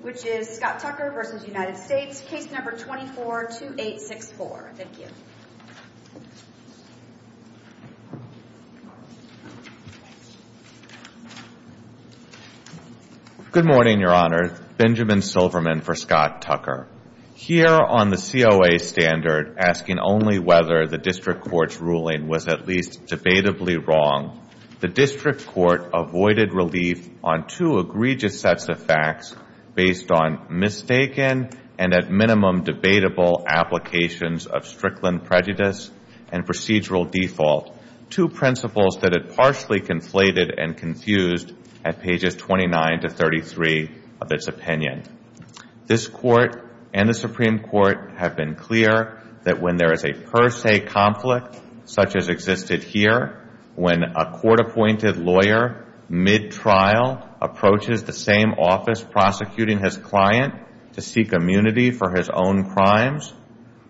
which is Scott Tucker v. United States, Case No. 24-2864. Thank you. Good morning, Your Honor. Benjamin Silverman for Scott Tucker. Here on the COA standard asking only whether the District Court's ruling was at least debatably wrong, the District Court avoided relief on two egregious sets of facts based on mistaken and at minimum debatable applications of Strickland prejudice and procedural default, two principles that it partially conflated and confused at pages 29-33 of its opinion. This Court and the Supreme Court have been clear that when there is a per se conflict such as existed here, when a court-appointed lawyer mid-trial approaches the same office prosecuting his client to seek immunity for his own crimes,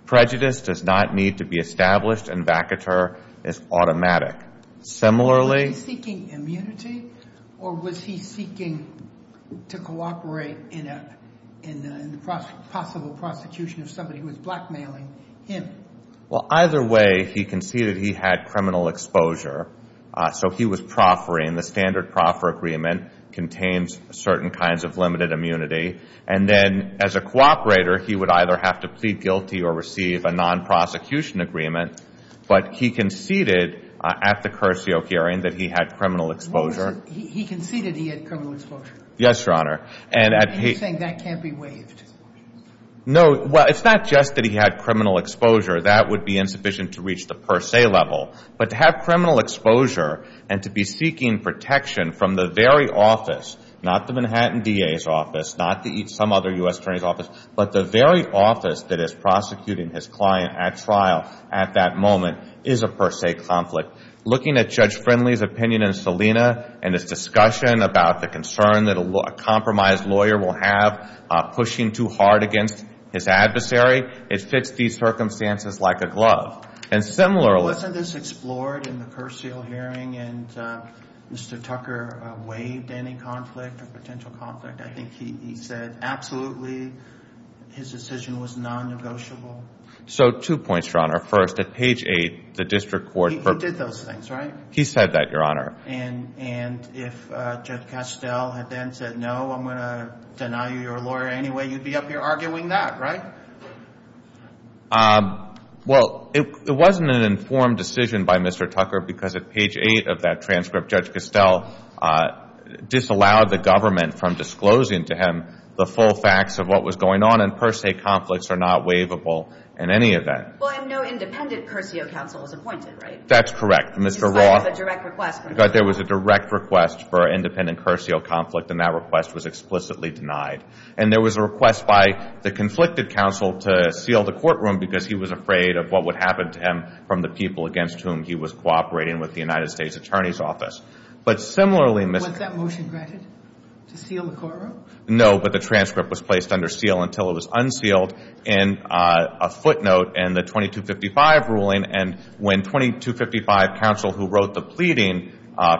prejudice does not need to be established and vacateur is automatic. Similarly... Was he seeking immunity or was he seeking to cooperate in the possible prosecution of somebody who was blackmailing him? Well, either way, he conceded he had criminal exposure, so he was proffering. The standard proffer agreement contains certain kinds of limited immunity. And then as a cooperator, he would either have to plead guilty or receive a non-prosecution agreement, but he conceded at the cursio hearing that he had criminal exposure. He conceded he had criminal exposure? Yes, Your Honor. And he's saying that can't be waived. No. Well, it's not just that he had criminal exposure. That would be insufficient to reach the per se level. But to have criminal exposure and to be seeking protection from the very office, not the Manhattan DA's office, not some other U.S. attorney's office, but the very office that is prosecuting his client at trial at that moment is a per se conflict. Looking at Judge Friendly's opinion and Selena and his discussion about the concern that a compromised lawyer will have pushing too hard against his adversary, it fits these circumstances like a glove. And similarly... Wasn't this explored in the cursio hearing and Mr. Tucker waived any conflict or potential conflict? I think he said absolutely his decision was non-negotiable. So two points, Your Honor. First, at page 8, the district court... He did those things, right? He said that, Your Honor. And if Judge Castell had then said, no, I'm going to deny you your lawyer anyway, you'd be up here arguing that, right? Well, it wasn't an informed decision by Mr. Tucker because at page 8 of that transcript, Judge Castell disallowed the government from disclosing to him the full facts of what was going on. And per se conflicts are not waivable in any of that. Well, and no independent cursio counsel was appointed, right? That's correct. Mr. Raw... In spite of a direct request... But there was a direct request for independent request by the conflicted counsel to seal the courtroom because he was afraid of what would happen to him from the people against whom he was cooperating with the United States Attorney's Office. But similarly... Was that motion granted to seal the courtroom? No, but the transcript was placed under seal until it was unsealed in a footnote in the 2255 ruling. And when 2255 counsel who wrote the pleading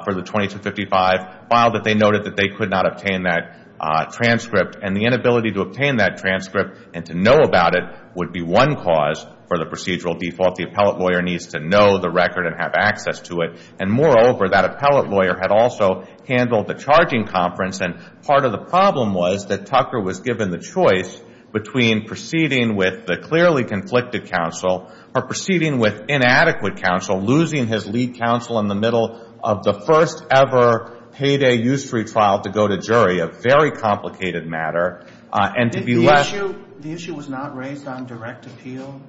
for the 2255 filed it, they noted that they could not obtain that transcript. And the inability to obtain that transcript and to know about it would be one cause for the procedural default. The appellate lawyer needs to know the record and have access to it. And moreover, that appellate lawyer had also handled the charging conference. And part of the problem was that Tucker was given the choice between proceeding with the clearly conflicted counsel or proceeding with inadequate counsel, losing his lead counsel in the middle of the first ever payday usury trial to go to jury, a very complicated matter, and to be left... The issue was not raised on direct appeal,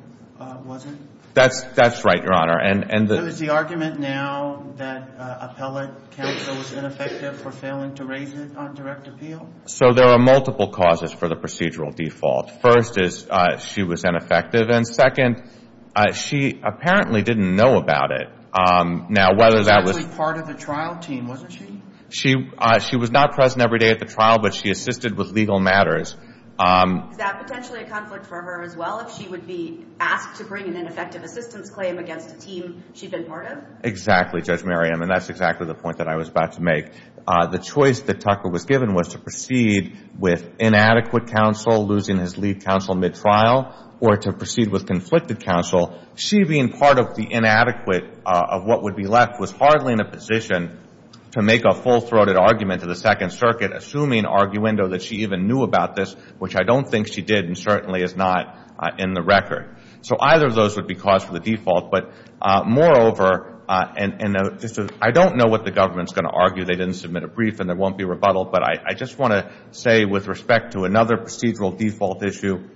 was it? That's right, Your Honor. And... So is the argument now that appellate counsel was ineffective for failing to raise it on direct appeal? So there are multiple causes for the procedural default. First is she was ineffective. And second, she apparently didn't know about it. Now, whether that was... She was actually part of the trial team, wasn't she? She was not present every day at the trial, but she assisted with legal matters. Is that potentially a conflict for her as well, if she would be asked to bring an ineffective assistance claim against a team she'd been part of? Exactly, Judge Merriam. And that's exactly the point that I was about to make. The choice that Tucker was given was to proceed with inadequate counsel, losing his lead counsel mid-trial, or to proceed with conflicted counsel. She being part of the inadequate of what would be left was hardly in a position to make a full-throated argument to the Second Circuit, assuming arguendo that she even knew about this, which I don't think she did, and certainly is not in the record. So either of those would be cause for the default. But moreover, and I don't know what the government's going to argue. They didn't submit a brief, and there won't be rebuttal. But I just want to say, with respect to another procedural default issue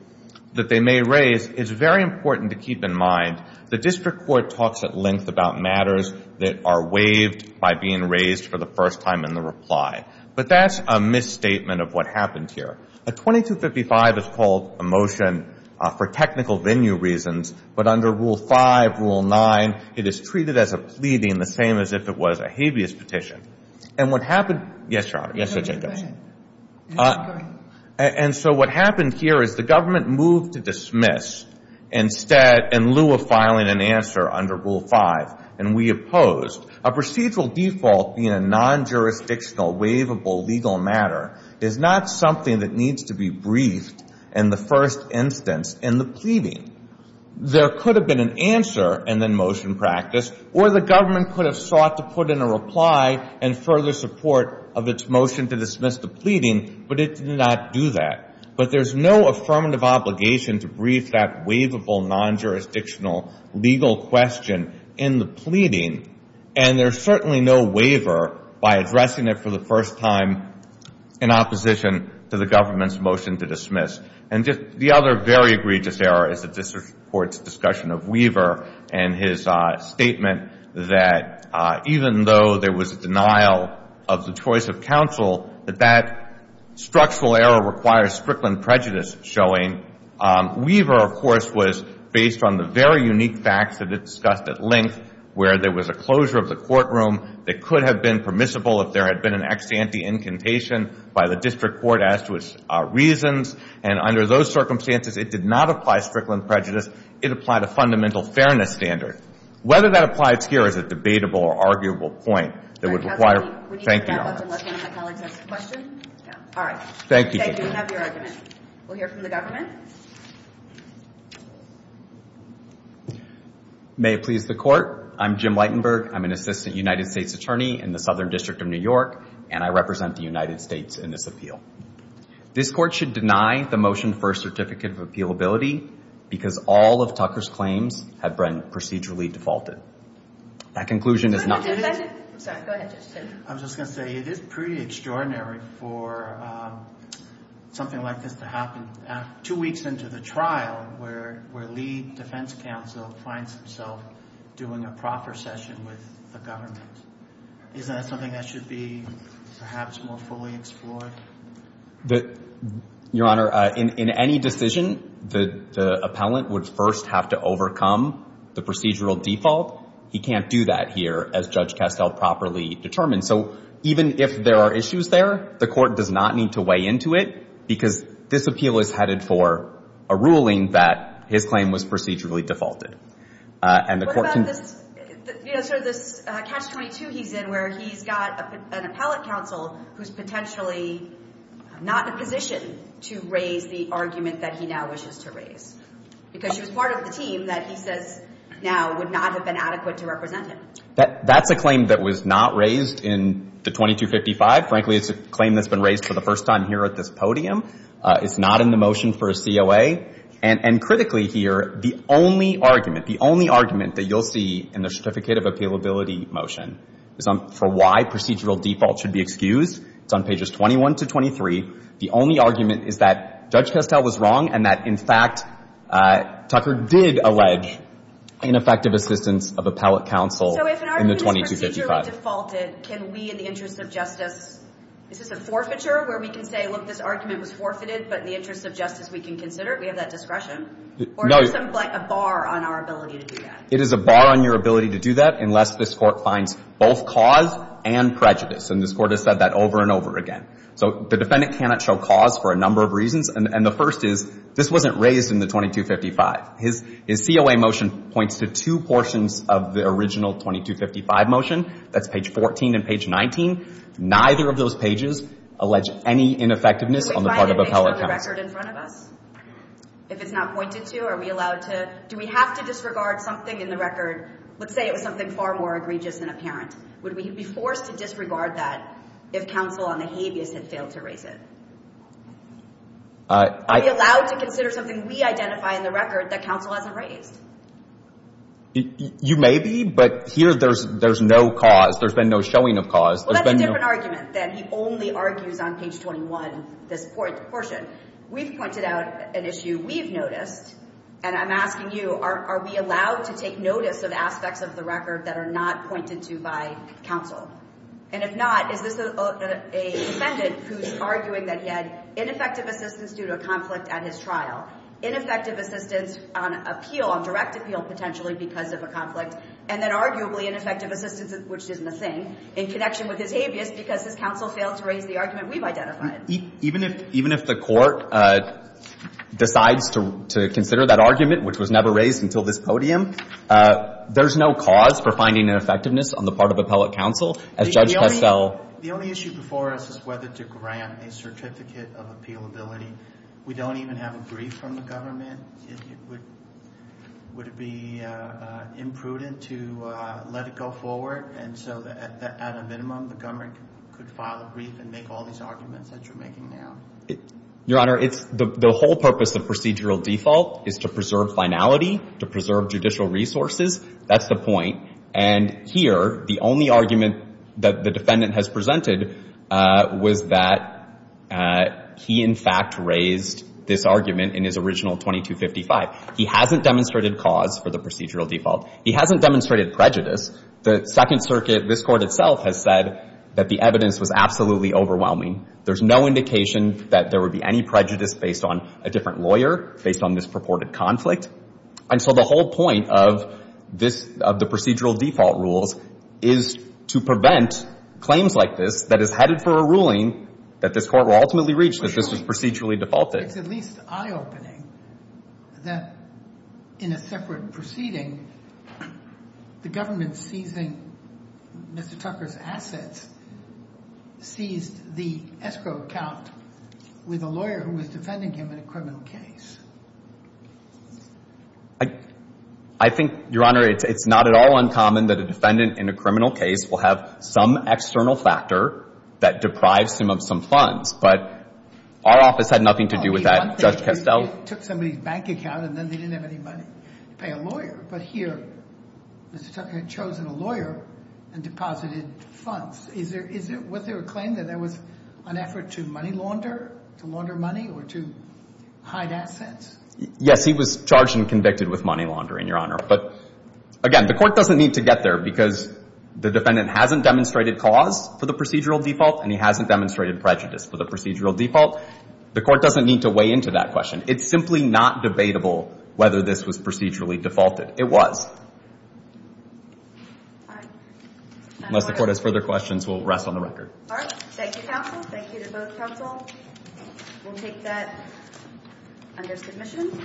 that they may raise, it's very important to keep in mind the district court talks at length about matters that are waived by being raised for the first time in the reply. But that's a misstatement of what happened here. A 2255 is called a motion for technical venue reasons, but under Rule 5, Rule 9, it is treated as a pleading, the same as if it was a habeas petition. And what happened here is the government moved to dismiss, in lieu of filing an answer under Rule 5, and we opposed. A procedural default being a non-jurisdictional, waivable, legal matter is not something that needs to be briefed in the first instance in the pleading. There could have been an answer and then motion practiced, or the government could have sought to put in a reply in further support of its motion to dismiss the pleading, but it did not do that. But there's no affirmative obligation to brief that waivable, non-jurisdictional, legal question in the pleading, and there's certainly no waiver by addressing it for the first time in opposition to the government's motion to dismiss. And just the other very egregious error is the district court's discussion of Weaver and his statement that even though there was a denial of the choice of counsel, that that structural error requires Strickland prejudice showing. Weaver, of course, was based on the very unique facts that it discussed at length, where there was a closure of the courtroom that could have been permissible if there had been an ex ante incantation by the district court as to its reasons, and under those circumstances, it did not apply Strickland prejudice. It applied a fundamental fairness standard. Whether that applies here is a debatable or arguable point that would require. Thank you, Your Honor. All right. Thank you. We have your argument. We'll hear from the government. May it please the court. I'm Jim Leitenberg. I'm an assistant United States attorney in the Southern District of New York, and I represent the United States in this appeal. This court should deny the motion for a certificate of appealability because all of Tucker's claims have been procedurally defaulted. That conclusion is not- I'm sorry. Go ahead, Judge Tate. I was just going to say, it is pretty extraordinary for something like this to happen two weeks into the trial where Lee defense counsel finds himself doing a proper session with the government. Isn't that something that should be perhaps more fully explored? Your Honor, in any decision, the appellant would first have to overcome the procedural default. He can't do that here as Judge Castell properly determined. So even if there are issues there, the court does not need to weigh into it because this appeal is headed for a ruling that his claim was procedurally defaulted. And the court can- So this Catch-22 he's in where he's got an appellate counsel who's potentially not in a position to raise the argument that he now wishes to raise because she was part of the team that he says now would not have been adequate to represent him. That's a claim that was not raised in the 2255. Frankly, it's a claim that's been raised for the first time here at this podium. It's not in the motion for a COA. And critically here, the only argument, the only argument that you'll see in the Certificate of Appealability motion is for why procedural default should be excused. It's on pages 21 to 23. The only argument is that Judge Castell was wrong and that, in fact, Tucker did allege ineffective assistance of appellate counsel in the 2255. So if an argument is procedurally defaulted, can we, in the interest of justice, is this a forfeiture where we can say, look, this argument was forfeited, but in the interest of justice, we can consider it? We have that discretion? Or is there a bar on our ability to do that? It is a bar on your ability to do that unless this Court finds both cause and prejudice. And this Court has said that over and over again. So the defendant cannot show cause for a number of reasons. And the first is, this wasn't raised in the 2255. His COA motion points to two portions of the original 2255 motion. That's page 14 and page 19. Neither of those pages allege any ineffectiveness on the part of appellate counsel. Are we allowed to disregard the record in front of us? If it's not pointed to, are we allowed to? Do we have to disregard something in the record? Let's say it was something far more egregious than apparent. Would we be forced to disregard that if counsel on the habeas had failed to raise it? Are we allowed to consider something we identify in the record that counsel hasn't raised? You may be, but here there's no cause. There's been no showing of cause. Well, that's a different argument than he only argues on page 21, this portion. We've pointed out an issue we've noticed, and I'm asking you, are we allowed to take notice of aspects of the record that are not pointed to by counsel? And if not, is this a defendant who's arguing that he had ineffective assistance due to a conflict at his trial, ineffective assistance on appeal, on direct appeal potentially because of a conflict, and then arguably ineffective assistance, which isn't a thing, in connection with his habeas because his counsel failed to raise the argument we've identified? Even if the Court decides to consider that argument, which was never raised until this podium, there's no cause for finding ineffectiveness on the part of appellate counsel, as Judge Pestel. The only issue before us is whether to grant a certificate of appealability. We don't even have a brief from the government. Would it be imprudent to let it go forward and so that at a minimum the government could file a brief and make all these arguments that you're making now? Your Honor, the whole purpose of procedural default is to preserve finality, to preserve judicial resources. That's the point. And here, the only argument that the defendant has presented was that he, in fact, raised this argument in his original 2255. He hasn't demonstrated cause for the procedural default. He hasn't demonstrated prejudice. The Second Circuit, this Court itself, has said that the evidence was absolutely overwhelming. There's no indication that there would be any prejudice based on a different lawyer, based on this purported conflict. And so the whole point of this, of the procedural default rules, is to prevent claims like this that is headed for a ruling that this Court will ultimately reach that this was procedurally defaulted. It's at least eye-opening that, in a separate proceeding, the government seizing Mr. Tucker's assets seized the escrow account with a lawyer who was defending him in a criminal case. I think, Your Honor, it's not at all uncommon that a defendant in a criminal case will have some external factor that deprives him of some funds. But our office had nothing to do with that. Judge Kestel? Well, the one thing is he took somebody's bank account, and then they didn't have any money to pay a lawyer. But here, Mr. Tucker had chosen a lawyer and deposited funds. Is there a claim that there was an effort to money launder, to launder assets? Yes, he was charged and convicted with money laundering, Your Honor. But again, the Court doesn't need to get there, because the defendant hasn't demonstrated cause for the procedural default, and he hasn't demonstrated prejudice for the procedural default. The Court doesn't need to weigh into that question. It's simply not debatable whether this was procedurally defaulted. It was. Unless the Court has further questions, we'll rest on the record. All right. Thank you, counsel. Thank you to both counsel. We'll take that under submission.